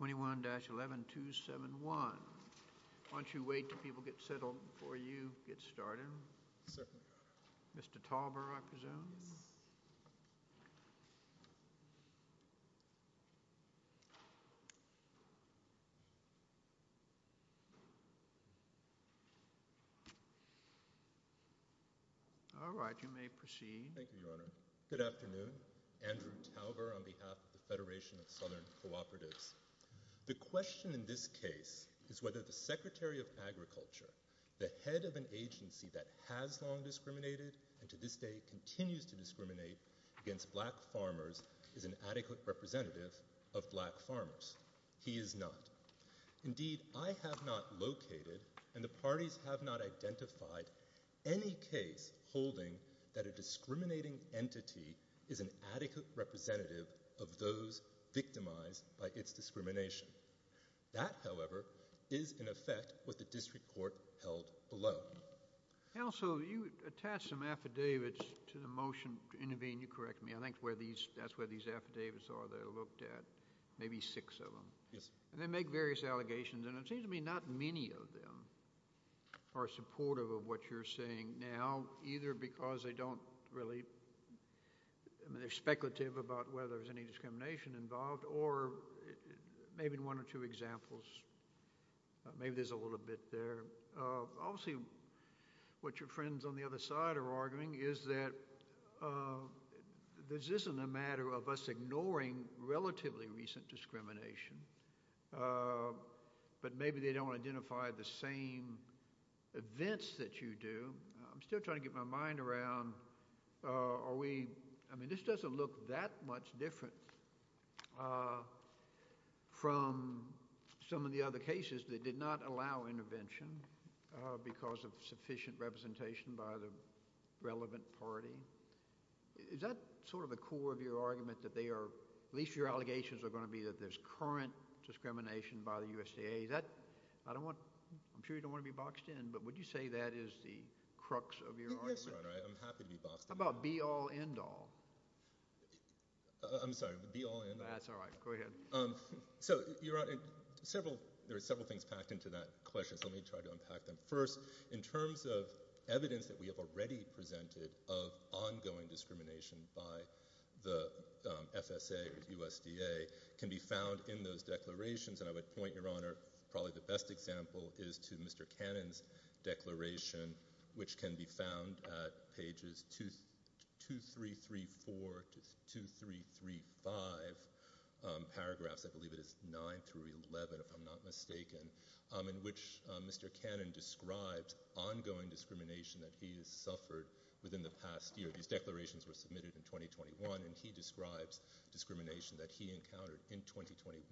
21-11-271, why don't you wait until people get settled before you get started. Mr. Talber, I presume. Alright, you may proceed. Thank you, Your Honor. Good afternoon, Andrew Talber on behalf of the Federation of Southern Cooperatives. The question in this case is whether the Secretary of Agriculture, the head of an agency that has long discriminated and to this day continues to discriminate against black farmers, is an adequate representative of black farmers. He is not. Indeed, I have not located and the parties have not identified any case holding that a discriminating entity is an adequate representative of those victimized by its discrimination. That, however, is in effect what the district court held below. Counsel, you attached some affidavits to the motion to intervene. You correct me. I think that's where these affidavits are. They're looked at, maybe six of them. Yes. And they make various allegations and it seems to me not many of them are supportive of what you're saying now, either because they don't really, they're speculative about whether there's any discrimination involved or maybe one or two examples, maybe there's a little bit there. Obviously, what your friends on the other side are arguing is that this isn't a matter of us ignoring relatively recent discrimination, but maybe they don't identify the same events that you do. I'm still trying to get my mind around, are we, I mean, this doesn't look that much different from some of the other cases that did not allow intervention because of sufficient representation by the relevant party. Is that sort of the core of your argument that they are, at least your allegations are going to be that there's current discrimination by the USDA? Is that, I don't want, I'm sure you don't want to be boxed in, but would you say that is the crux of your argument? Yes, Your Honor, I'm happy to be boxed in. How about be all, end all? I'm sorry, be all, end all? That's all right. Go ahead. So, Your Honor, several, there are several things packed into that question, so let me try to unpack them. First, in terms of evidence that we have already presented of ongoing discrimination by the FSA or USDA can be found in those declarations, and I would point, Your Honor, probably the best example is to Mr. Cannon's declaration, which can be found at pages 2, 3, 3, 4 to 2, 3, 3, 5, paragraphs, I believe it is 9 through 11, if I'm not mistaken, in which Mr. Cannon describes ongoing discrimination that he has suffered within the past year. These declarations were submitted in 2021, and he describes discrimination that he encountered in 2021,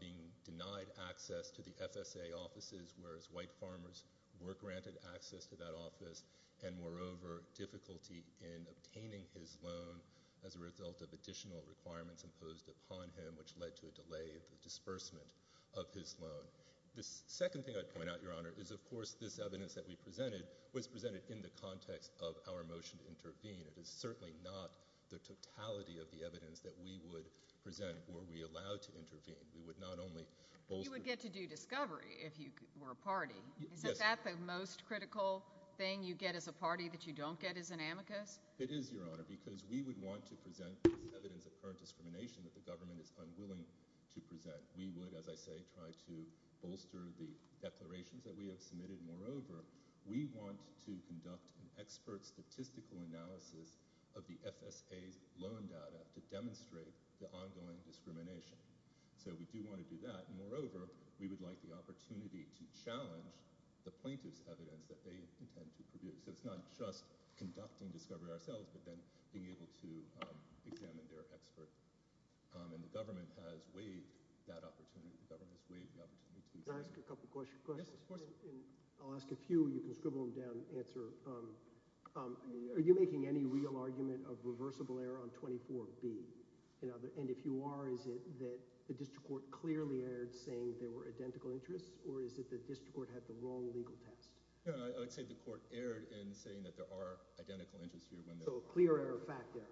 being denied access to the FSA offices, whereas white farmers were granted access to that office, and, moreover, difficulty in obtaining his loan as a result of additional requirements imposed upon him, which led to a delay in the disbursement of his loan. The second thing I'd point out, Your Honor, is, of course, this evidence that we presented was presented in the context of our motion to intervene. It is certainly not the totality of the evidence that we would present were we allowed to intervene. We would not only— You would get to do discovery if you were a party. Yes. Is that the most critical thing you get as a party that you don't get as an amicus? It is, Your Honor, because we would want to present evidence of current discrimination that the government is unwilling to present. We would, as I say, try to bolster the declarations that we have submitted. Moreover, we want to conduct an expert statistical analysis of the FSA's loan data to demonstrate the ongoing discrimination. So we do want to do that. Moreover, we would like the opportunity to challenge the plaintiff's evidence that they intend to produce. So it's not just conducting discovery ourselves, but then being able to examine their expert. And the government has waived that opportunity. The government has waived the opportunity to do so. Can I ask a couple of questions? Yes, of course. I'll ask a few. You can scribble them down and answer. Are you making any real argument of reversible error on 24B? And if you are, is it that the district court clearly erred saying there were identical interests? Or is it the district court had the wrong legal test? I would say the court erred in saying that there are identical interests here. So a clear error factor.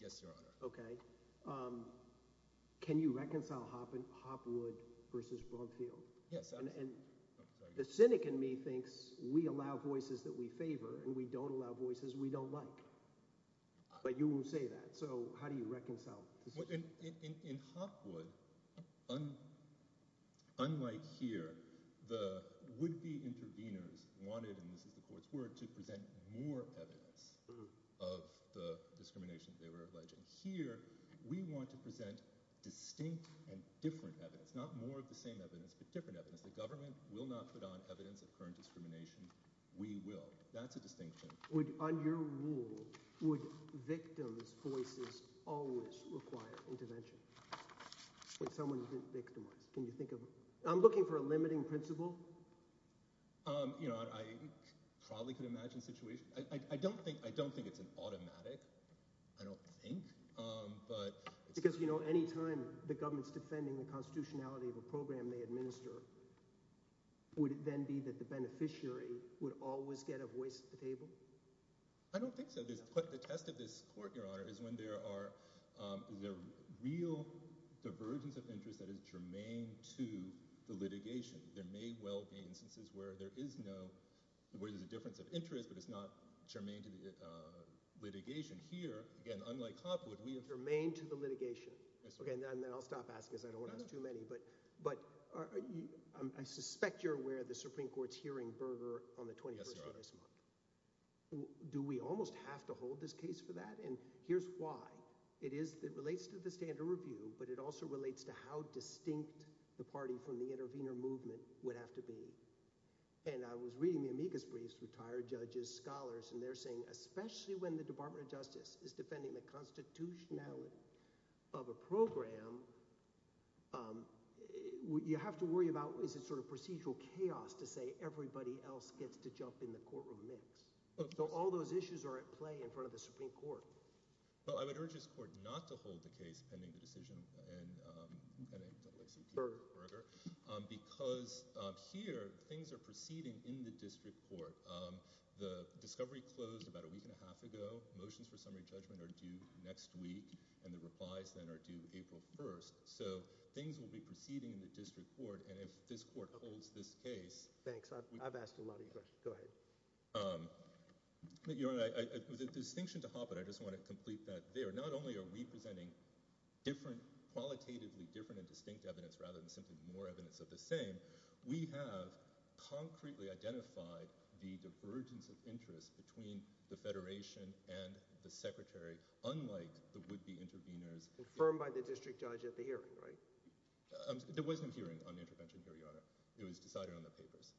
Yes, Your Honor. Okay. Can you reconcile Hopwood versus Brumfield? Yes, absolutely. And the cynic in me thinks we allow voices that we favor and we don't allow voices we don't like. But you won't say that. So how do you reconcile the two? In Hopwood, unlike here, the would-be interveners wanted – and this is the court's word – to present more evidence of the discrimination that they were alleging. Here, we want to present distinct and different evidence, not more of the same evidence, but different evidence. The government will not put on evidence of current discrimination. We will. That's a distinction. On your rule, would victims' voices always require intervention? When someone's been victimized. Can you think of – I'm looking for a limiting principle. You know, I probably could imagine situations – I don't think it's an automatic – I don't think. Because, you know, anytime the government's defending the constitutionality of a program they administer, would it then be that the beneficiary would always get a voice at the table? I don't think so. The test of this court, Your Honor, is when there are – is there real divergence of interest that is germane to the litigation. There may well be instances where there is no – where there's a difference of interest, but it's not germane to the litigation. Here, again, unlike Hopwood, we have – Germane to the litigation. Yes, Your Honor. Okay, and then I'll stop asking because I don't want to ask too many. But I suspect you're aware of the Supreme Court's hearing burger on the 21st of this month. Yes, Your Honor. Do we almost have to hold this case for that? And here's why. It is – it relates to the standard review, but it also relates to how distinct the party from the intervener movement would have to be. And I was reading the amicus briefs, retired judges, scholars, and they're saying especially when the Department of Justice is defending the constitutionality of a program, you have to worry about is it sort of procedural chaos to say everybody else gets to jump in the courtroom mix. So all those issues are at play in front of the Supreme Court. Well, I would urge this court not to hold the case pending the decision and – Burger. Burger. Because here things are proceeding in the district court. The discovery closed about a week and a half ago. Motions for summary judgment are due next week, and the replies then are due April 1st. So things will be proceeding in the district court, and if this court holds this case – Thanks. I've asked a lot of your questions. Go ahead. Your Honor, with a distinction to Hoppe, I just want to complete that there. Not only are we presenting different – qualitatively different and distinct evidence rather than simply more evidence of the same, we have concretely identified the divergence of interest between the federation and the secretary, unlike the would-be interveners. Confirmed by the district judge at the hearing, right? There was no hearing on intervention here, Your Honor. It was decided on the papers.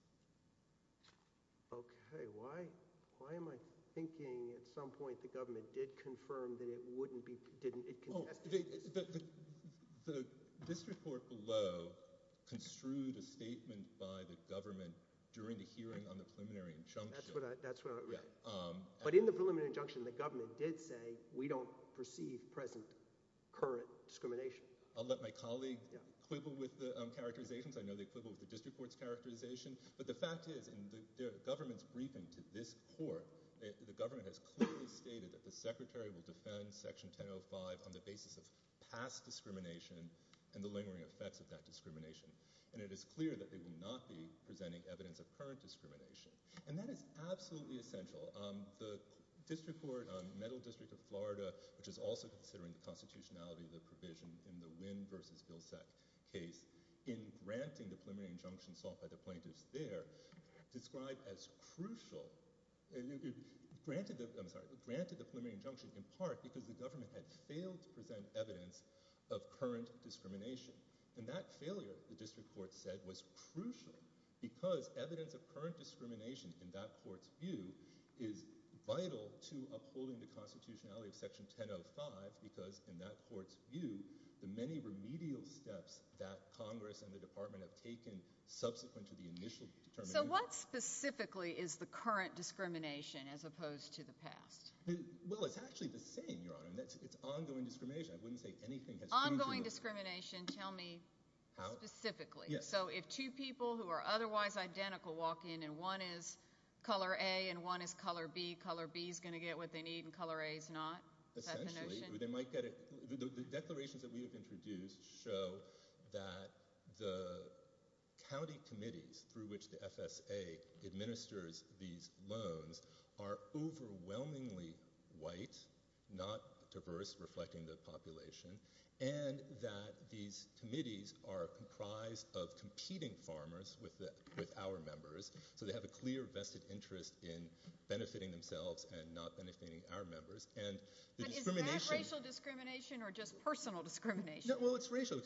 Okay. Why am I thinking at some point the government did confirm that it wouldn't be – didn't – The district court below construed a statement by the government during the hearing on the preliminary injunction. That's what I'm – Yeah. But in the preliminary injunction, the government did say we don't perceive present current discrimination. I'll let my colleague quibble with the characterizations. I know they quibble with the district court's characterization. But the fact is, in the government's briefing to this court, the government has clearly stated that the secretary will defend Section 1005 on the basis of past discrimination and the lingering effects of that discrimination. And it is clear that they will not be presenting evidence of current discrimination. And that is absolutely essential. The district court, Middle District of Florida, which is also considering the constitutionality of the provision in the Wynn v. Vilsack case, in granting the preliminary injunction sought by the plaintiffs there, described as crucial – granted the preliminary injunction in part because the government had failed to present evidence of current discrimination. And that failure, the district court said, was crucial because evidence of current discrimination in that court's view is vital to upholding the constitutionality of Section 1005 because in that court's view, the many remedial steps that Congress and the department have taken subsequent to the initial determination – So what specifically is the current discrimination as opposed to the past? Well, it's actually the same, Your Honor. It's ongoing discrimination. I wouldn't say anything has changed – Ongoing discrimination? Tell me specifically. So if two people who are otherwise identical walk in and one is color A and one is color B, color B is going to get what they need and color A is not? Essentially. The declarations that we have introduced show that the county committees through which the FSA administers these loans are overwhelmingly white, not diverse, reflecting the population, and that these committees are comprised of competing farmers with our members, so they have a clear vested interest in benefiting themselves and not benefiting our members. But is that racial discrimination or just personal discrimination? Well, it's racial.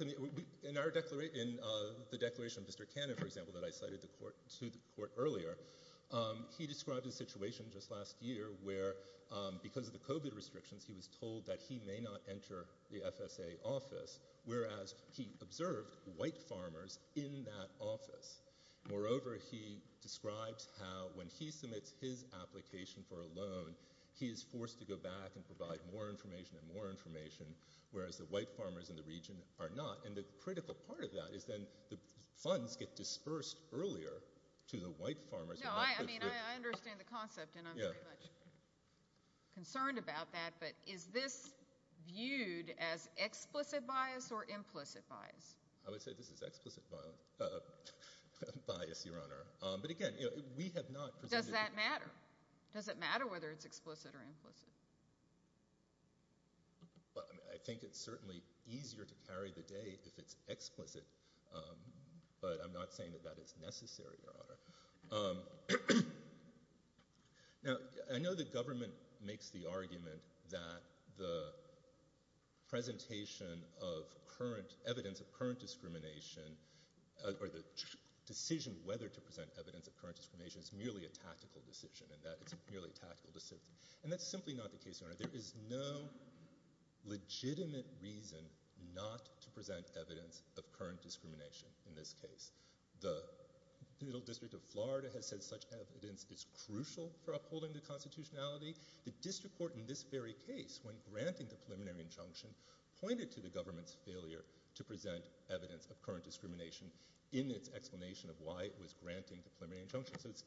In the declaration of Mr. Cannon, for example, that I cited to the court earlier, he described a situation just last year where because of the COVID restrictions, he was told that he may not enter the FSA office, whereas he observed white farmers in that office. Moreover, he describes how when he submits his application for a loan, he is forced to go back and provide more information and more information, whereas the white farmers in the region are not. And the critical part of that is then the funds get dispersed earlier to the white farmers. No, I mean, I understand the concept and I'm very much concerned about that, but is this viewed as explicit bias or implicit bias? I would say this is explicit bias, Your Honor. But, again, we have not presented— Does that matter? Does it matter whether it's explicit or implicit? I think it's certainly easier to carry the day if it's explicit, but I'm not saying that that is necessary, Your Honor. Now, I know the government makes the argument that the presentation of evidence of current discrimination or the decision whether to present evidence of current discrimination is merely a tactical decision and that it's merely a tactical decision. And that's simply not the case, Your Honor. There is no legitimate reason not to present evidence of current discrimination in this case. The Middle District of Florida has said such evidence is crucial for upholding the constitutionality. The district court in this very case, when granting the preliminary injunction, pointed to the government's failure to present evidence of current discrimination in its explanation of why it was granting the preliminary injunction. So it's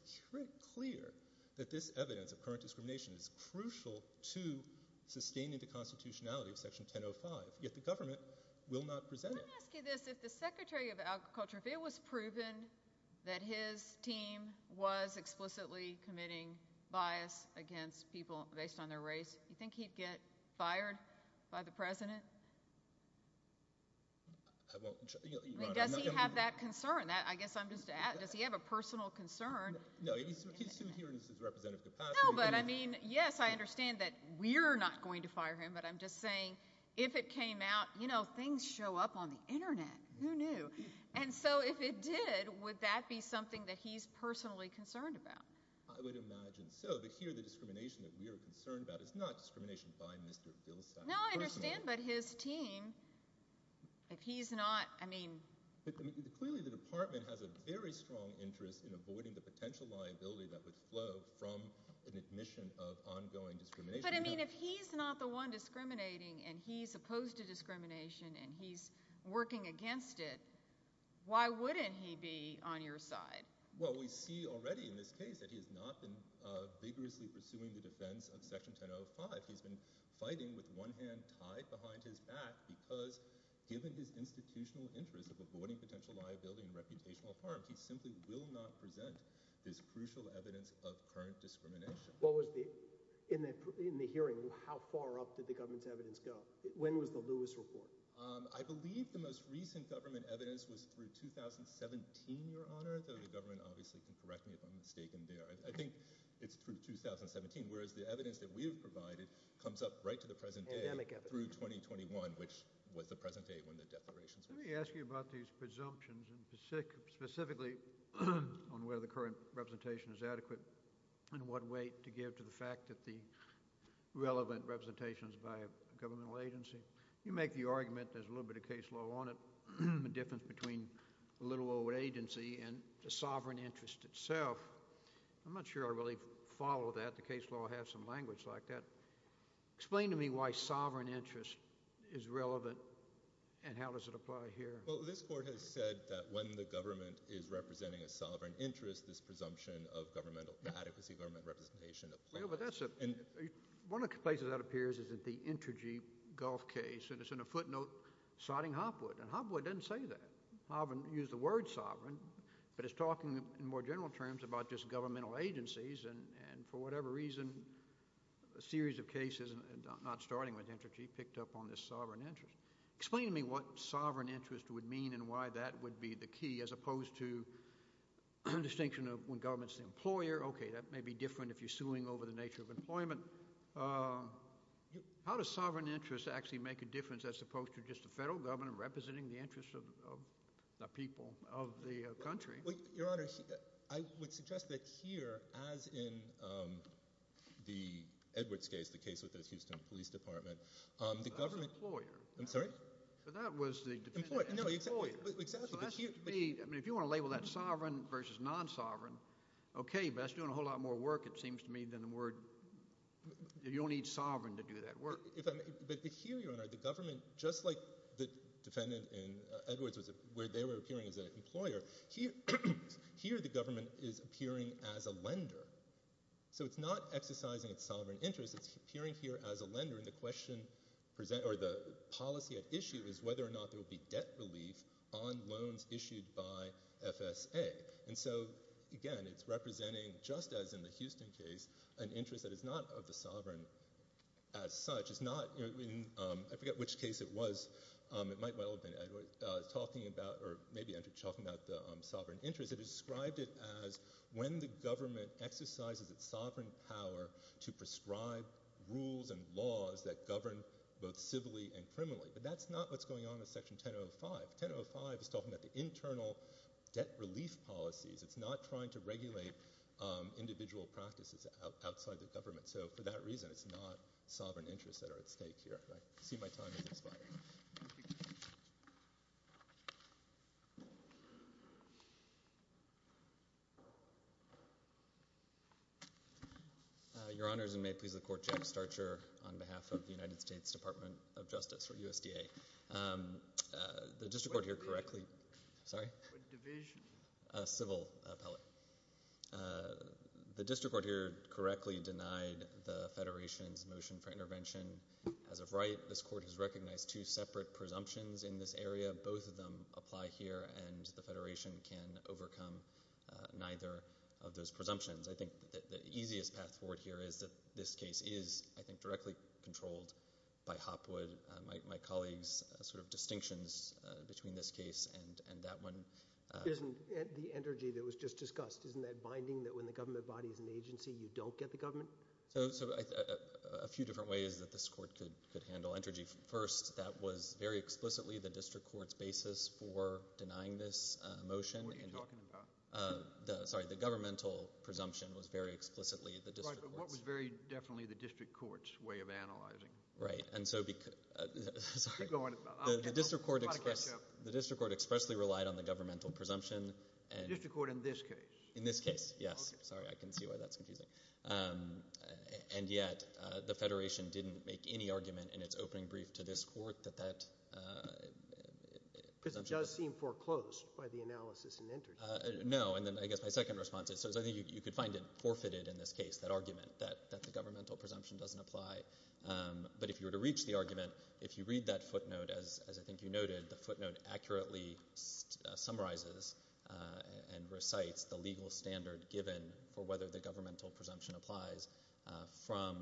clear that this evidence of current discrimination is crucial to sustaining the constitutionality of Section 1005, yet the government will not present it. Let me ask you this. If the Secretary of Agriculture, if it was proven that his team was explicitly committing bias against people based on their race, do you think he'd get fired by the President? I mean, does he have that concern? I guess I'm just asking, does he have a personal concern? No, he's here in his representative capacity. No, but I mean, yes, I understand that we're not going to fire him, but I'm just saying if it came out, you know, things show up on the Internet. Who knew? And so if it did, would that be something that he's personally concerned about? I would imagine so, but here the discrimination that we are concerned about is not discrimination by Mr. Vilsack personally. No, I understand, but his team, if he's not, I mean— Clearly the department has a very strong interest in avoiding the potential liability that would flow from an admission of ongoing discrimination. But, I mean, if he's not the one discriminating and he's opposed to discrimination and he's working against it, why wouldn't he be on your side? Well, we see already in this case that he has not been vigorously pursuing the defense of Section 1005. He's been fighting with one hand tied behind his back because given his institutional interest of avoiding potential liability and reputational harm, he simply will not present this crucial evidence of current discrimination. What was the—in the hearing, how far up did the government's evidence go? When was the Lewis report? I believe the most recent government evidence was through 2017, Your Honor, though the government obviously can correct me if I'm mistaken there. I think it's through 2017, whereas the evidence that we have provided comes up right to the present day— Pandemic evidence. —through 2021, which was the present day when the declarations were signed. Let me ask you about these presumptions and specifically on whether the current representation is adequate and what weight to give to the fact that the relevant representation is by a governmental agency. You make the argument there's a little bit of case law on it, the difference between a little old agency and the sovereign interest itself. I'm not sure I really follow that. The case law has some language like that. Explain to me why sovereign interest is relevant and how does it apply here? Well, this court has said that when the government is representing a sovereign interest, this presumption of governmental adequacy, government representation applies. Yeah, but that's a—one of the places that appears is at the Intergy Gulf case, and it's in a footnote citing Hopwood, and Hopwood doesn't say that. Hopwood used the word sovereign, but it's talking in more general terms about just governmental agencies and for whatever reason, a series of cases, not starting with Intergy, picked up on this sovereign interest. Explain to me what sovereign interest would mean and why that would be the key, as opposed to the distinction of when government's the employer. Okay, that may be different if you're suing over the nature of employment. How does sovereign interest actually make a difference as opposed to just the federal government representing the interests of the people of the country? Well, Your Honor, I would suggest that here, as in the Edwards case, the case with the Houston Police Department, the government— So that's the employer. I'm sorry? So that was the defendant as the employer. No, exactly. So that's to me—I mean if you want to label that sovereign versus non-sovereign, okay, but that's doing a whole lot more work, it seems to me, than the word—you don't need sovereign to do that work. But here, Your Honor, the government, just like the defendant in Edwards where they were appearing as an employer, here the government is appearing as a lender. So it's not exercising its sovereign interest. It's appearing here as a lender, and the policy at issue is whether or not there will be debt relief on loans issued by FSA. And so, again, it's representing, just as in the Houston case, an interest that is not of the sovereign as such. It's not—I forget which case it was. It might well have been Edwards talking about—or maybe Edwards talking about the sovereign interest. It described it as when the government exercises its sovereign power to prescribe rules and laws that govern both civilly and criminally. But that's not what's going on in Section 1005. 1005 is talking about the internal debt relief policies. It's not trying to regulate individual practices outside the government. So for that reason, it's not sovereign interests that are at stake here. I see my time is expiring. Your Honors, and may it please the Court, Jack Starcher on behalf of the United States Department of Justice, or USDA. The district court here correctly— What division? Sorry? What division? Civil appellate. The district court here correctly denied the Federation's motion for intervention. As of right, this Court has recognized two separate presumptions in this area. Both of them apply here, and the Federation can overcome neither of those presumptions. I think the easiest path forward here is that this case is, I think, directly controlled by Hopwood. My colleagues' sort of distinctions between this case and that one— Isn't the energy that was just discussed, isn't that binding that when the government body is an agency, you don't get the government? So a few different ways that this Court could handle energy. First, that was very explicitly the district court's basis for denying this motion. What are you talking about? Sorry, the governmental presumption was very explicitly the district court's. Right, but what was very definitely the district court's way of analyzing? Right, and so— Keep going. The district court expressly relied on the governmental presumption. The district court in this case? In this case, yes. Sorry, I can see why that's confusing. And yet the Federation didn't make any argument in its opening brief to this Court that that presumption— Because it does seem foreclosed by the analysis and interest. No, and then I guess my second response is, so I think you could find it forfeited in this case, that argument that the governmental presumption doesn't apply. But if you were to reach the argument, if you read that footnote, as I think you noted, the footnote accurately summarizes and recites the legal standard given for whether the governmental presumption applies from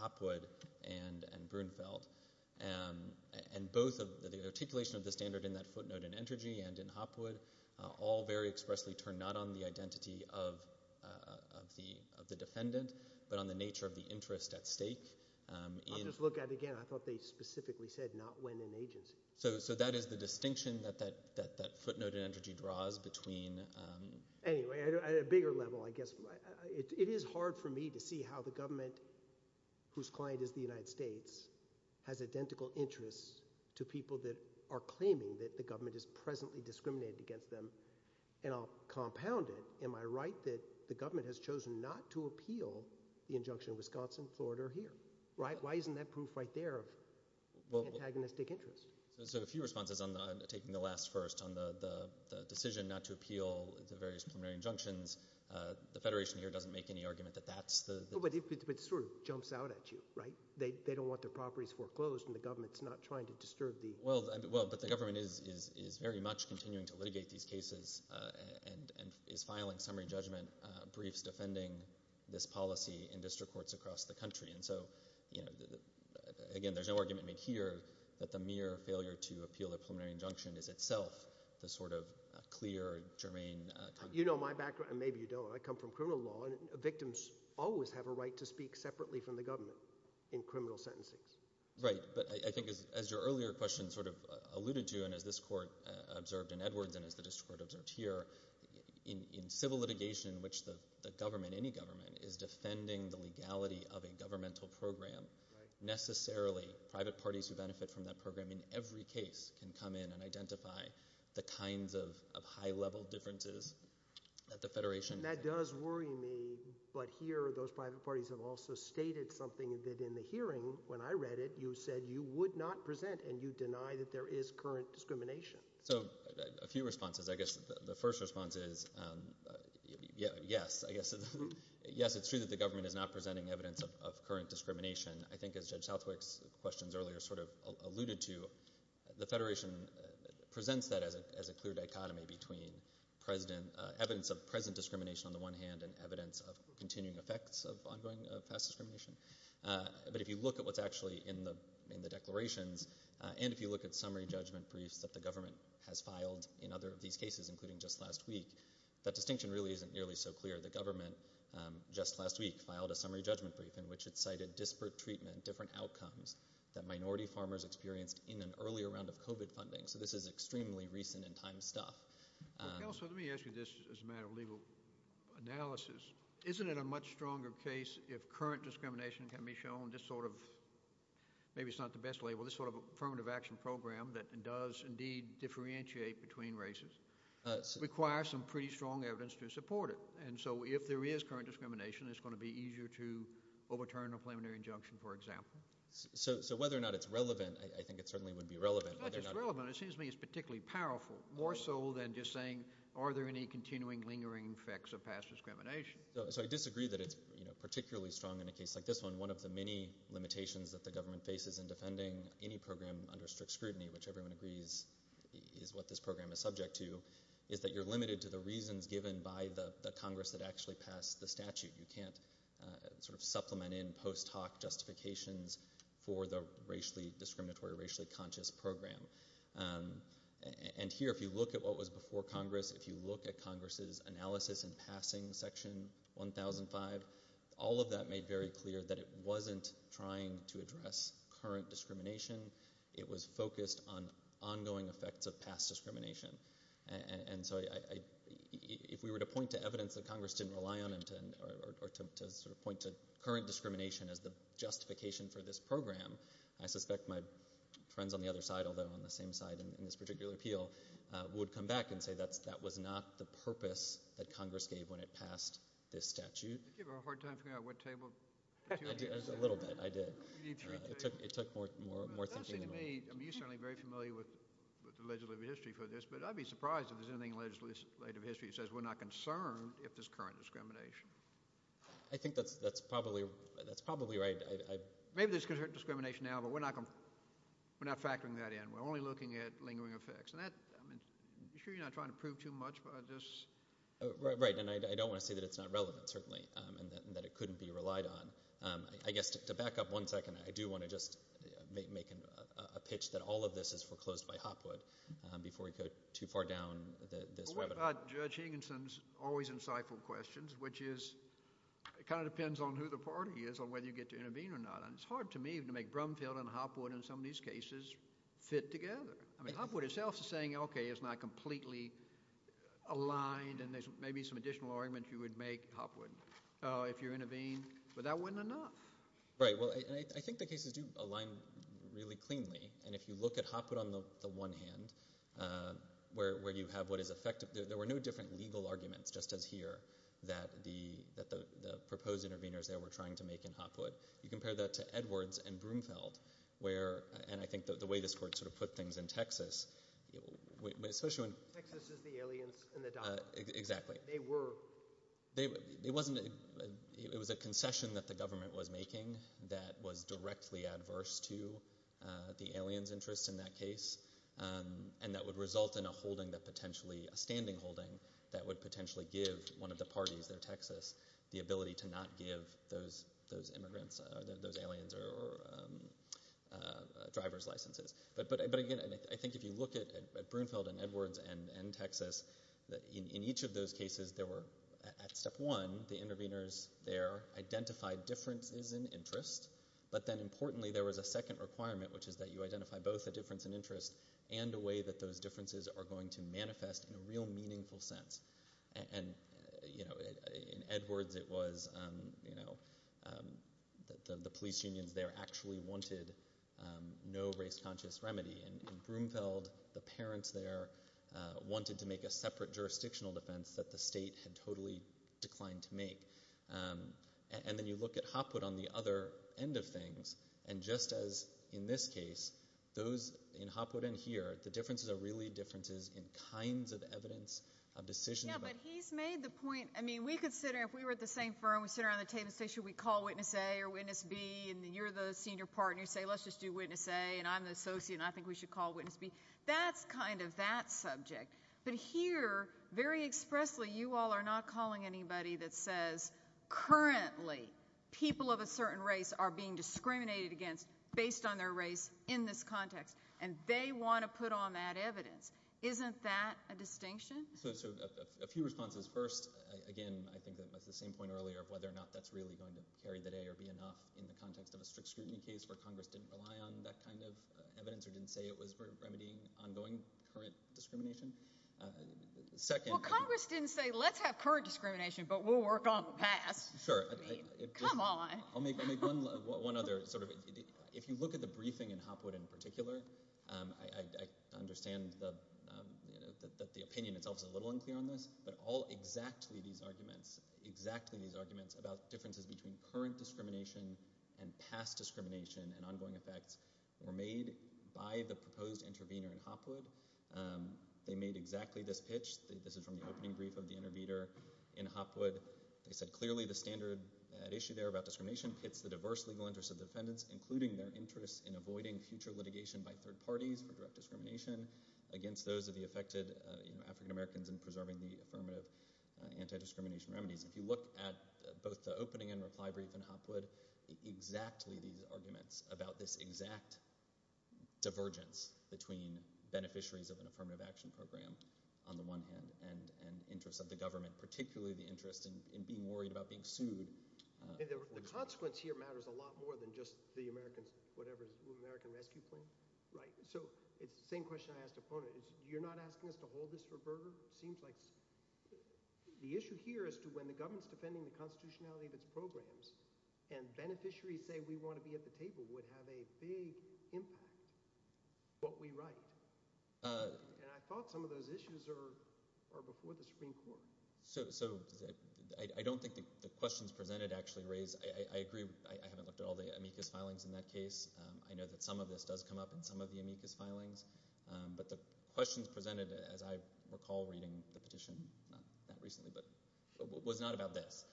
Hopwood and Brunfeld. And both the articulation of the standard in that footnote in Entergy and in Hopwood all very expressly turn not on the identity of the defendant but on the nature of the interest at stake. I'll just look at it again. I thought they specifically said not when in agency. So that is the distinction that that footnote in Entergy draws between— Anyway, at a bigger level, I guess, it is hard for me to see how the government, whose client is the United States, has identical interests to people that are claiming that the government is presently discriminated against them. And I'll compound it. Am I right that the government has chosen not to appeal the injunction in Wisconsin, Florida, or here? Why isn't that proof right there of antagonistic interest? So a few responses on taking the last first on the decision not to appeal the various preliminary injunctions. The Federation here doesn't make any argument that that's the— But it sort of jumps out at you, right? They don't want their properties foreclosed and the government is not trying to disturb the— Well, but the government is very much continuing to litigate these cases and is filing summary judgment briefs defending this policy in district courts across the country. And so, again, there's no argument made here that the mere failure to appeal the preliminary injunction is itself the sort of clear, germane— You know my background, and maybe you don't. I come from criminal law, and victims always have a right to speak separately from the government in criminal sentencing. Right, but I think as your earlier question sort of alluded to and as this court observed in Edwards and as the district court observed here, in civil litigation in which the government, any government, is defending the legality of a governmental program, necessarily private parties who benefit from that program in every case can come in and identify the kinds of high-level differences that the Federation— That does worry me, but here those private parties have also stated something that in the hearing when I read it you said you would not present and you deny that there is current discrimination. So a few responses. I guess the first response is yes. I guess it's true that the government is not presenting evidence of current discrimination. I think as Judge Southwick's questions earlier sort of alluded to, the Federation presents that as a clear dichotomy between evidence of present discrimination on the one hand and evidence of continuing effects of ongoing, fast discrimination. But if you look at what's actually in the declarations and if you look at summary judgment briefs that the government has filed in other of these cases, including just last week, that distinction really isn't nearly so clear. The government just last week filed a summary judgment brief in which it cited disparate treatment, different outcomes that minority farmers experienced in an earlier round of COVID funding. So this is extremely recent in time stuff. Counselor, let me ask you this as a matter of legal analysis. Isn't it a much stronger case if current discrimination can be shown just sort of – maybe it's not the best label – this sort of affirmative action program that does indeed differentiate between races requires some pretty strong evidence to support it. And so if there is current discrimination, it's going to be easier to overturn a preliminary injunction, for example. So whether or not it's relevant, I think it certainly would be relevant. It's not just relevant. It seems to me it's particularly powerful, more so than just saying are there any continuing lingering effects of past discrimination. So I disagree that it's particularly strong in a case like this one. One of the many limitations that the government faces in defending any program under strict scrutiny, which everyone agrees is what this program is subject to, is that you're limited to the reasons given by the Congress that actually passed the statute. You can't sort of supplement in post hoc justifications for the racially discriminatory, racially conscious program. And here, if you look at what was before Congress, if you look at Congress' analysis in passing Section 1005, all of that made very clear that it wasn't trying to address current discrimination. It was focused on ongoing effects of past discrimination. And so if we were to point to evidence that Congress didn't rely on or to sort of point to current discrimination as the justification for this program, I suspect my friends on the other side, although I'm on the same side in this particular appeal, would come back and say that was not the purpose that Congress gave when it passed this statute. Did you have a hard time figuring out what table? A little bit, I did. It took more thinking than me. It does seem to me, I mean you're certainly very familiar with legislative history for this, but I'd be surprised if there's anything in legislative history that says we're not concerned if there's current discrimination. I think that's probably right. Maybe there's current discrimination now, but we're not factoring that in. We're only looking at lingering effects. Are you sure you're not trying to prove too much by this? Right, and I don't want to say that it's not relevant, certainly, and that it couldn't be relied on. I guess to back up one second, I do want to just make a pitch that all of this is foreclosed by Hopwood before we go too far down this rabbit hole. What about Judge Higginson's always insightful questions, which is it kind of depends on who the party is and whether you get to intervene or not, and it's hard to me to make Brumfield and Hopwood in some of these cases fit together. I mean Hopwood itself is saying, okay, it's not completely aligned, and there's maybe some additional arguments you would make, Hopwood, if you intervene, but that wasn't enough. Right, well, I think the cases do align really cleanly, and if you look at Hopwood on the one hand where you have what is effective, there were no different legal arguments, just as here, that the proposed interveners there were trying to make in Hopwood. You compare that to Edwards and Brumfield, and I think the way this court sort of put things in Texas. Texas is the aliens and the doctors. Exactly. They were. It was a concession that the government was making that was directly adverse to the aliens' interests in that case, and that would result in a holding that potentially, a standing holding, that would potentially give one of the parties there, Texas, the ability to not give those immigrants, those aliens, drivers licenses. But again, I think if you look at Brumfield and Edwards and Texas, in each of those cases there were, at step one, the interveners there identified differences in interest, but then importantly there was a second requirement, which is that you identify both a difference in interest and a way that those differences are going to manifest in a real meaningful sense. In Edwards it was that the police unions there actually wanted no race-conscious remedy, and in Brumfield the parents there wanted to make a separate jurisdictional defense that the state had totally declined to make. And then you look at Hopwood on the other end of things, and just as in this case, those in Hopwood and here, the differences are really differences in kinds of evidence, of decisions. Yeah, but he's made the point, I mean, we could sit here, if we were at the same firm, we'd sit around the table and say, should we call witness A or witness B, and you're the senior partner, you say, let's just do witness A, and I'm the associate and I think we should call witness B. That's kind of that subject. But here, very expressly, you all are not calling anybody that says, currently people of a certain race are being discriminated against based on their race in this context, and they want to put on that evidence. Isn't that a distinction? So a few responses. First, again, I think that was the same point earlier of whether or not that's really going to carry the day or be enough in the context of a strict scrutiny case where Congress didn't rely on that kind of evidence or didn't say it was remedying ongoing current discrimination. Well, Congress didn't say, let's have current discrimination, but we'll work on the past. Sure. I mean, come on. I'll make one other sort of, if you look at the briefing in Hopwood in particular, I understand that the opinion itself is a little unclear on this, but all exactly these arguments, exactly these arguments about differences between current discrimination and past discrimination and ongoing effects were made by the proposed intervener in Hopwood. They made exactly this pitch. This is from the opening brief of the intervener in Hopwood. They said, clearly the standard issue there about discrimination pits the diverse legal interests of defendants, including their interest in avoiding future litigation by third parties for direct discrimination against those of the affected African-Americans in preserving the affirmative anti-discrimination remedies. If you look at both the opening and reply brief in Hopwood, exactly these arguments about this exact divergence between beneficiaries of an affirmative action program on the one hand and interests of the government, particularly the interest in being worried about being sued. The consequence here matters a lot more than just the Americans, whatever, American rescue plan. Right. So it's the same question I asked opponent. You're not asking us to hold this for Berger? Seems like the issue here is to when the government's defending the constitutionality of its programs and beneficiaries say we want to be at the table would have a big impact what we write. And I thought some of those issues are before the Supreme Court. So I don't think the questions presented actually raise – I agree. I haven't looked at all the amicus filings in that case. I know that some of this does come up in some of the amicus filings. But the questions presented, as I recall reading the petition, not that recently, but was not about this.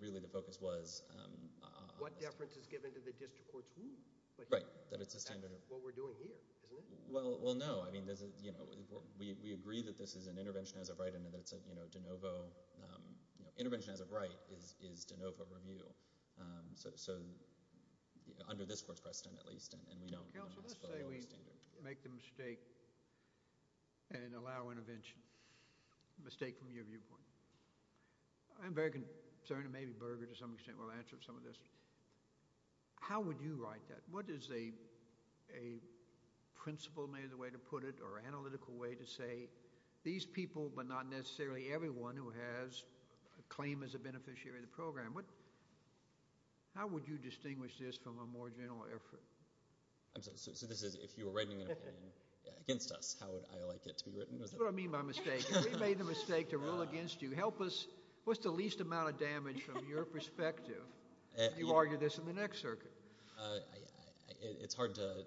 Really the focus was – What difference is given to the district court's ruling? Right. That it's a standard – That's what we're doing here, isn't it? Well, no. We agree that this is an intervention as of right and that it's a de novo – intervention as of right is de novo review. So under this court's precedent at least and we don't – Counsel, let's say we make the mistake and allow intervention. A mistake from your viewpoint. I'm very concerned and maybe Berger to some extent will answer some of this. How would you write that? What is a principle, maybe the way to put it, or analytical way to say, these people but not necessarily everyone who has a claim as a beneficiary of the program, how would you distinguish this from a more general effort? So this is if you were writing an opinion against us, how would I like it to be written? That's what I mean by mistake. We made the mistake to rule against you. Help us. What's the least amount of damage from your perspective? You argue this in the next circuit. It's hard to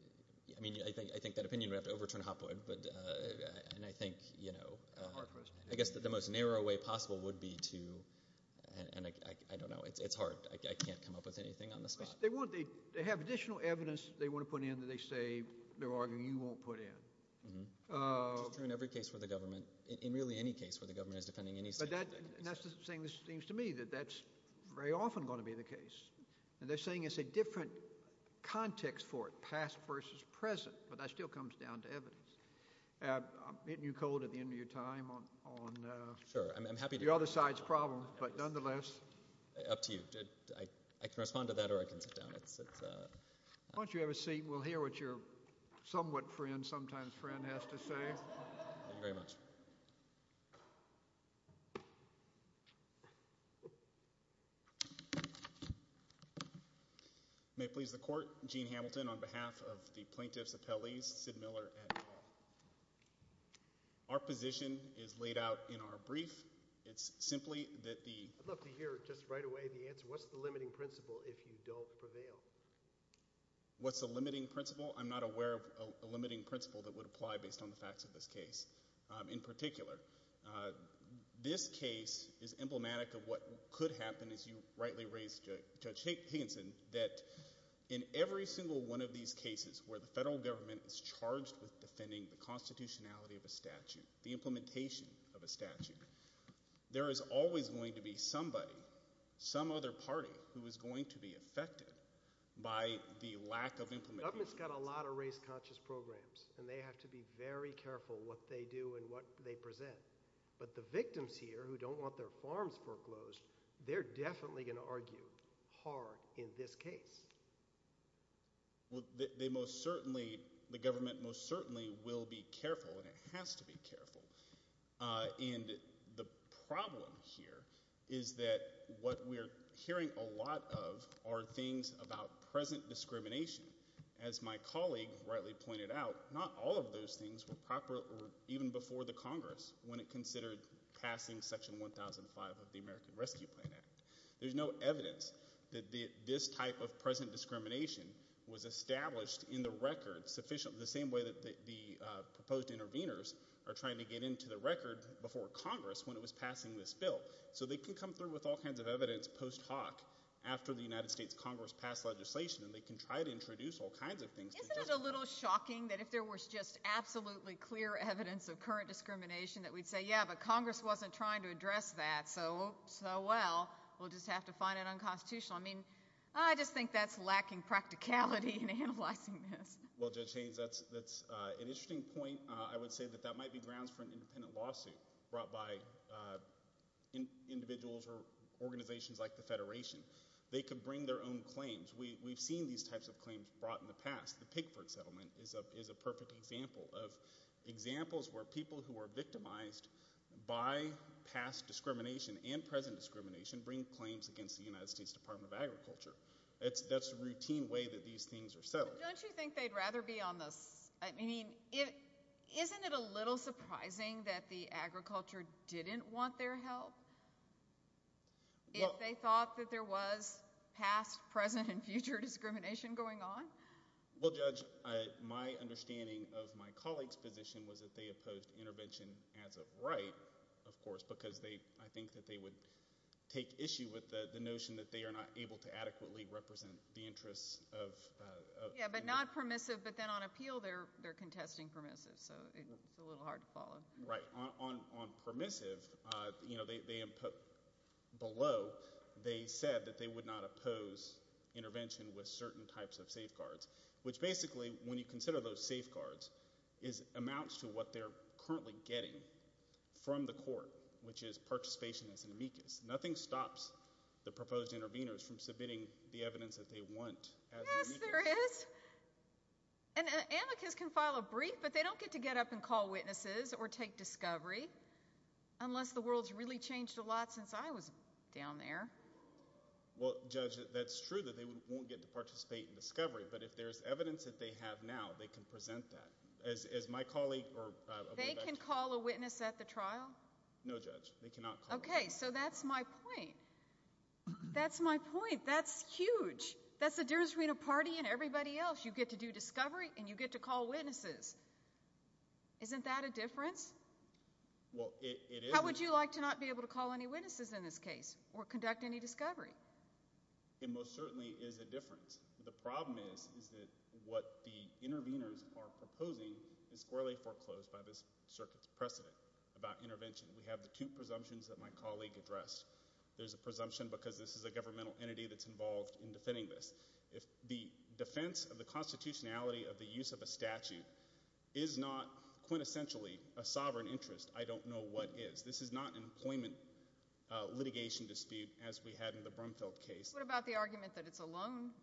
– I mean I think that opinion would have to overturn Hopwood, and I think the most narrow way possible would be to – and I don't know. It's hard. I can't come up with anything on the spot. They have additional evidence they want to put in that they say they're arguing you won't put in. Which is true in every case where the government – in really any case where the government is defending any such evidence. That's the thing that seems to me that that's very often going to be the case, and they're saying it's a different context for it, past versus present, but that still comes down to evidence. I'm hitting you cold at the end of your time on the other side's problem, but nonetheless. Up to you. I can respond to that or I can sit down. Why don't you have a seat? We'll hear what your somewhat friend, sometimes friend, has to say. Thank you very much. May it please the Court. Gene Hamilton on behalf of the plaintiffs' appellees, Sid Miller and Paul. Our position is laid out in our brief. It's simply that the – I'd love to hear just right away the answer. What's the limiting principle if you don't prevail? What's the limiting principle? I'm not aware of a limiting principle that would apply based on the facts of this case. In particular, this case is emblematic of what could happen, as you rightly raised, Judge Higginson, that in every single one of these cases where the federal government is charged with defending the constitutionality of a statute, the implementation of a statute, there is always going to be somebody, some other party, who is going to be affected by the lack of implementation. The government's got a lot of race-conscious programs, and they have to be very careful what they do and what they present. But the victims here who don't want their farms foreclosed, they're definitely going to argue hard in this case. Well, they most certainly – the government most certainly will be careful, and it has to be careful. And the problem here is that what we're hearing a lot of are things about present discrimination. As my colleague rightly pointed out, not all of those things were proper even before the Congress when it considered passing Section 1005 of the American Rescue Plan Act. There's no evidence that this type of present discrimination was established in the record sufficient, the same way that the proposed interveners are trying to get into the record before Congress when it was passing this bill. So they could come through with all kinds of evidence post hoc after the United States Congress passed legislation, and they can try to introduce all kinds of things. Isn't it a little shocking that if there was just absolutely clear evidence of current discrimination that we'd say, yeah, but Congress wasn't trying to address that so well, we'll just have to find it unconstitutional? I mean, I just think that's lacking practicality in analyzing this. Well, Judge Haynes, that's an interesting point. I would say that that might be grounds for an independent lawsuit brought by individuals or organizations like the Federation. They could bring their own claims. We've seen these types of claims brought in the past. The Pigford Settlement is a perfect example of examples where people who were victimized by past discrimination and present discrimination bring claims against the United States Department of Agriculture. That's the routine way that these things are settled. Don't you think they'd rather be on this? I mean, isn't it a little surprising that the agriculture didn't want their help if they thought that there was past, present, and future discrimination going on? Well, Judge, my understanding of my colleagues' position was that they opposed intervention as of right, of course, because I think that they would take issue with the notion that they are not able to adequately represent the interests of the individual. Yeah, but not permissive. But then on appeal, they're contesting permissive, so it's a little hard to follow. Right. On permissive, below they said that they would not oppose intervention with certain types of safeguards, which basically, when you consider those safeguards, amounts to what they're currently getting from the court, which is participation as an amicus. Nothing stops the proposed interveners from submitting the evidence that they want as an amicus. Yes, there is. And an amicus can file a brief, but they don't get to get up and call witnesses or take discovery, unless the world's really changed a lot since I was down there. Well, Judge, that's true that they won't get to participate in discovery, but if there's evidence that they have now, they can present that. As my colleague or a way back to you. They can call a witness at the trial? No, Judge, they cannot call a witness. Okay, so that's my point. That's my point. That's huge. That's the Dears Arena Party and everybody else. You get to do discovery and you get to call witnesses. Isn't that a difference? Well, it is. How would you like to not be able to call any witnesses in this case or conduct any discovery? It most certainly is a difference. The problem is that what the interveners are proposing is squarely foreclosed by this circuit's precedent about intervention. We have the two presumptions that my colleague addressed. There's a presumption because this is a governmental entity that's involved in defending this. The defense of the constitutionality of the use of a statute is not quintessentially a sovereign interest. I don't know what is. This is not an employment litigation dispute as we had in the Brumfield case. What about the argument that it's a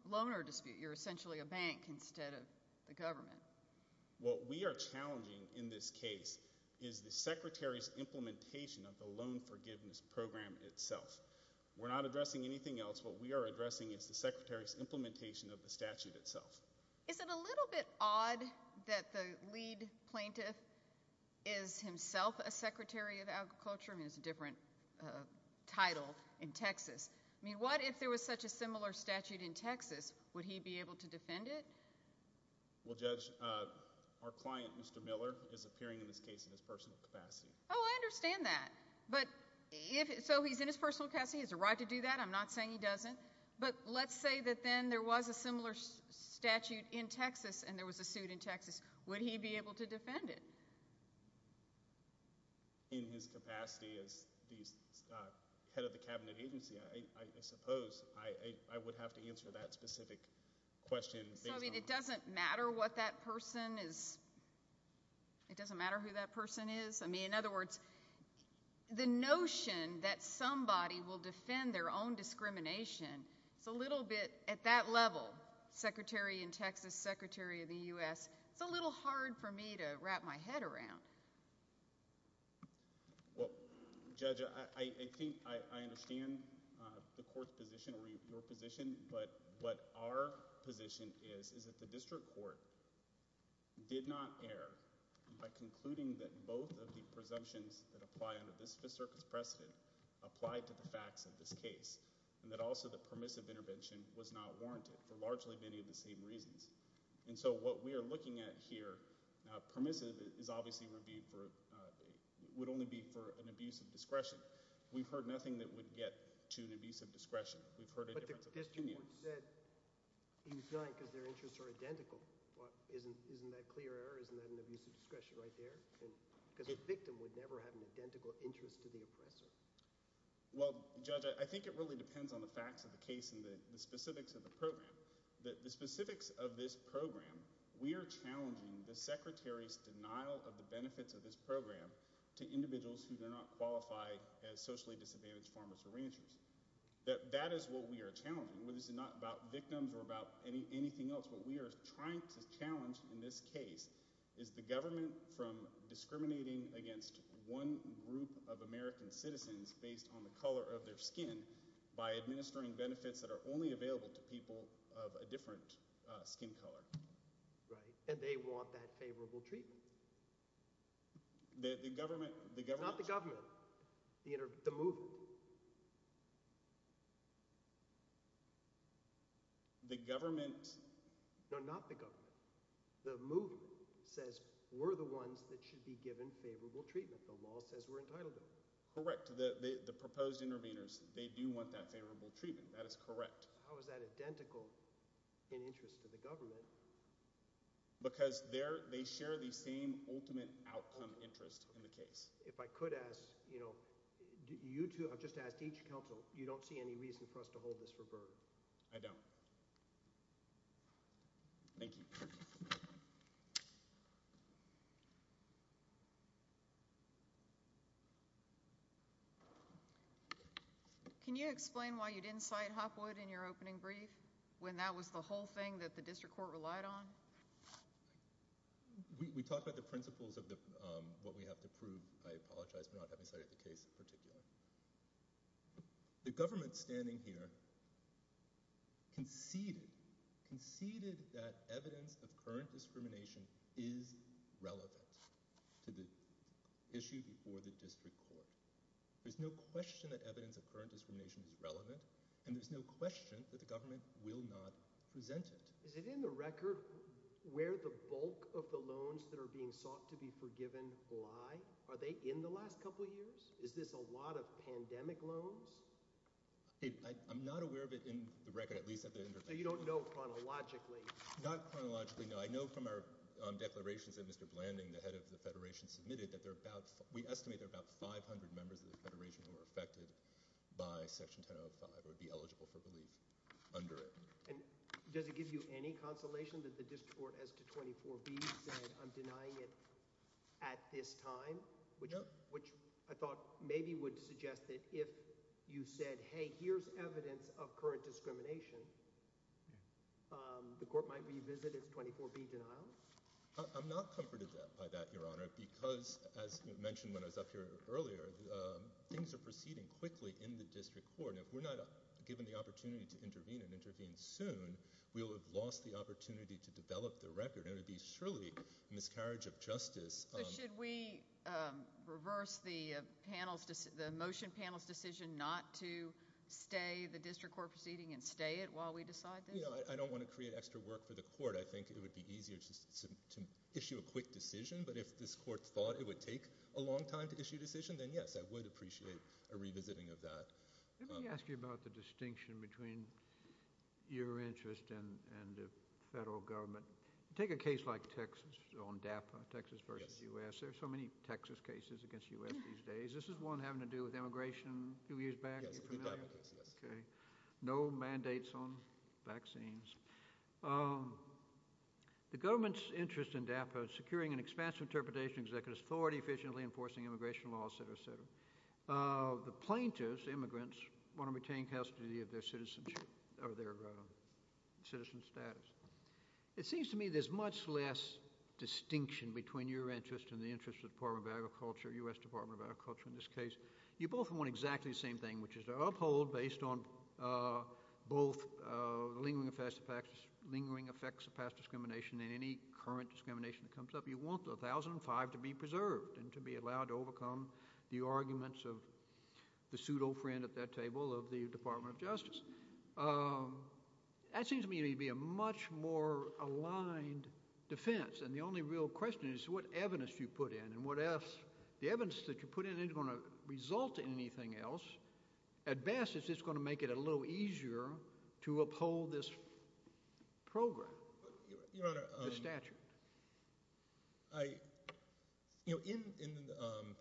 loaner dispute? You're essentially a bank instead of the government. What we are challenging in this case is the secretary's implementation of the loan forgiveness program itself. We're not addressing anything else. What we are addressing is the secretary's implementation of the statute itself. Is it a little bit odd that the lead plaintiff is himself a secretary of agriculture? I mean it's a different title in Texas. I mean what if there was such a similar statute in Texas? Would he be able to defend it? Well, Judge, our client, Mr. Miller, is appearing in this case in his personal capacity. Oh, I understand that. So he's in his personal capacity. He has a right to do that. I'm not saying he doesn't. But let's say that then there was a similar statute in Texas and there was a suit in Texas. Would he be able to defend it? In his capacity as the head of the cabinet agency, I suppose I would have to answer that specific question. So it doesn't matter what that person is? It doesn't matter who that person is? I mean, in other words, the notion that somebody will defend their own discrimination, it's a little bit, at that level, secretary in Texas, secretary of the U.S., it's a little hard for me to wrap my head around. Well, Judge, I think I understand the court's position or your position, but what our position is is that the district court did not err by concluding that both of the presumptions that apply under this Fifth Circuit's precedent applied to the facts of this case and that also the permissive intervention was not warranted for largely many of the same reasons. And so what we are looking at here, permissive is obviously reviewed for – would only be for an abuse of discretion. We've heard nothing that would get to an abuse of discretion. We've heard a difference of opinion. But the district court said he was not because their interests are identical. Isn't that clear error? Isn't that an abuse of discretion right there? Because a victim would never have an identical interest to the oppressor. Well, Judge, I think it really depends on the facts of the case and the specifics of the program. The specifics of this program – we are challenging the secretary's denial of the benefits of this program to individuals who do not qualify as socially disadvantaged farmers or ranchers. That is what we are challenging. This is not about victims or about anything else. What we are trying to challenge in this case is the government from discriminating against one group of American citizens based on the color of their skin by administering benefits that are only available to people of a different skin color. Right, and they want that favorable treatment. The government – Not the government. The movement. The government – No, not the government. The movement says we're the ones that should be given favorable treatment. The law says we're entitled to it. Correct. The proposed interveners, they do want that favorable treatment. That is correct. How is that identical in interest to the government? Because they share the same ultimate outcome interest in the case. If I could ask, you know, you two – I've just asked each counsel. You don't see any reason for us to hold this for Byrne? I don't. Thank you. Can you explain why you didn't cite Hopwood in your opening brief when that was the whole thing that the district court relied on? We talked about the principles of what we have to prove. I apologize for not having cited the case in particular. The government standing here conceded that evidence of current discrimination is relevant to the issue before the district court. There's no question that evidence of current discrimination is relevant, and there's no question that the government will not present it. Is it in the record where the bulk of the loans that are being sought to be forgiven lie? Are they in the last couple years? Is this a lot of pandemic loans? I'm not aware of it in the record, at least at the – So you don't know chronologically? Not chronologically, no. I know from our declarations that Mr. Blanding, the head of the federation, submitted that there are about – we estimate there are about 500 members of the federation who are affected by Section 1005 or would be eligible for relief under it. And does it give you any consolation that the district court, as to 24B, said I'm denying it at this time? No. Which I thought maybe would suggest that if you said, hey, here's evidence of current discrimination, the court might revisit its 24B denial. I'm not comforted by that, Your Honor, because, as mentioned when I was up here earlier, things are proceeding quickly in the district court. And if we're not given the opportunity to intervene and intervene soon, we will have lost the opportunity to develop the record, So should we reverse the motion panel's decision not to stay the district court proceeding and stay it while we decide this? I don't want to create extra work for the court. I think it would be easier to issue a quick decision. But if this court thought it would take a long time to issue a decision, then yes, I would appreciate a revisiting of that. Let me ask you about the distinction between your interest and the federal government. Take a case like Texas on DAPA, Texas versus U.S. There are so many Texas cases against U.S. these days. This is one having to do with immigration a few years back. You're familiar? Yes. No mandates on vaccines. The government's interest in DAPA is securing an expansive interpretation of executive authority, efficiently enforcing immigration laws, et cetera, et cetera. The plaintiffs, immigrants, want to retain custody of their citizenship or their citizen status. It seems to me there's much less distinction between your interest and the interest of the Department of Agriculture, U.S. Department of Agriculture in this case. You both want exactly the same thing, which is to uphold based on both lingering effects of past discrimination and any current discrimination that comes up. You want the 1005 to be preserved and to be allowed to overcome the arguments of the pseudo friend at that table of the Department of Justice. That seems to me to be a much more aligned defense, and the only real question is what evidence you put in and what else the evidence that you put in isn't going to result in anything else. At best, it's just going to make it a little easier to uphold this program, the statute. In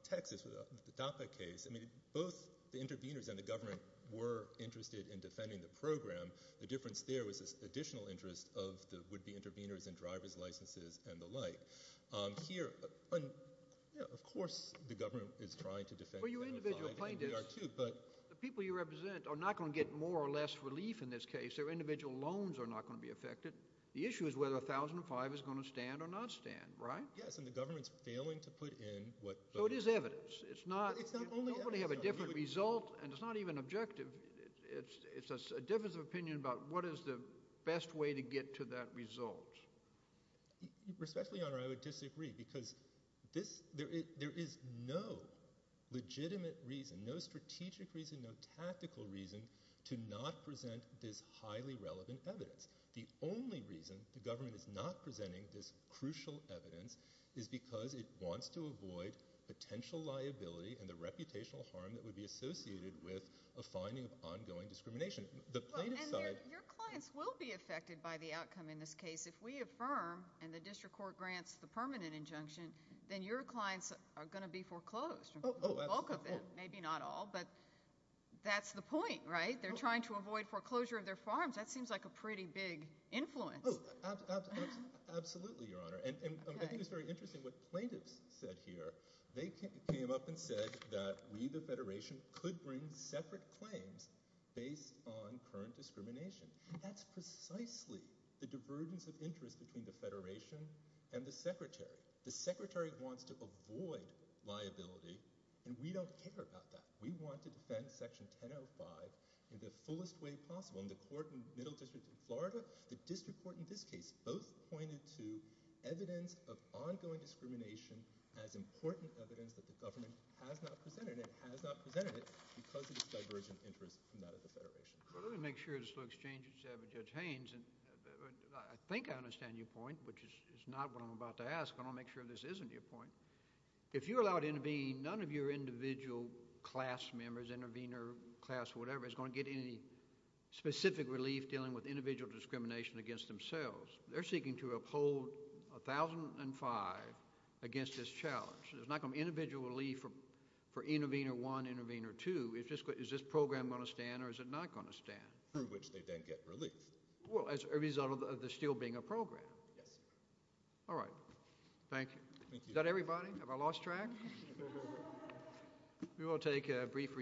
Texas, the DAPA case, both the intervenors and the government were interested in defending the program. The difference there was this additional interest of the would-be intervenors in driver's licenses and the like. Here, of course the government is trying to defend them. Well, your individual plaintiffs, the people you represent, are not going to get more or less relief in this case. Their individual loans are not going to be affected. The issue is whether 1005 is going to stand or not stand, right? Yes, and the government is failing to put in what – So it is evidence. It's not – It's not only evidence. Nobody has a different result, and it's not even objective. It's a difference of opinion about what is the best way to get to that result. Respectfully, Your Honor, I would disagree because there is no legitimate reason, no strategic reason, no tactical reason, to not present this highly relevant evidence. The only reason the government is not presenting this crucial evidence is because it wants to avoid potential liability and the reputational harm that would be associated with a finding of ongoing discrimination. The plaintiff's side – Well, and your clients will be affected by the outcome in this case. If we affirm and the district court grants the permanent injunction, then your clients are going to be foreclosed. Oh, absolutely. The bulk of them, maybe not all, but that's the point, right? They're trying to avoid foreclosure of their farms. That seems like a pretty big influence. Oh, absolutely, Your Honor. And I think it's very interesting what plaintiffs said here. They came up and said that we, the Federation, could bring separate claims based on current discrimination. That's precisely the divergence of interest between the Federation and the Secretary. The Secretary wants to avoid liability, and we don't care about that. We want to defend Section 1005 in the fullest way possible. And the court in the Middle District in Florida, the district court in this case, both pointed to evidence of ongoing discrimination as important evidence that the government has not presented. It has not presented it because of its divergent interest from that of the Federation. Well, let me make sure this looks changed. Judge Haynes, I think I understand your point, which is not what I'm about to ask, but I want to make sure this isn't your point. If you're allowed to intervene, none of your individual class members, intervener class or whatever, is going to get any specific relief dealing with individual discrimination against themselves. They're seeking to uphold 1005 against this challenge. There's not going to be individual relief for intervener one, intervener two. Is this program going to stand or is it not going to stand? Through which they then get relief. Well, as a result of this still being a program. Yes, sir. All right. Thank you. Thank you. Is that everybody? Have I lost track? We will take a brief recess.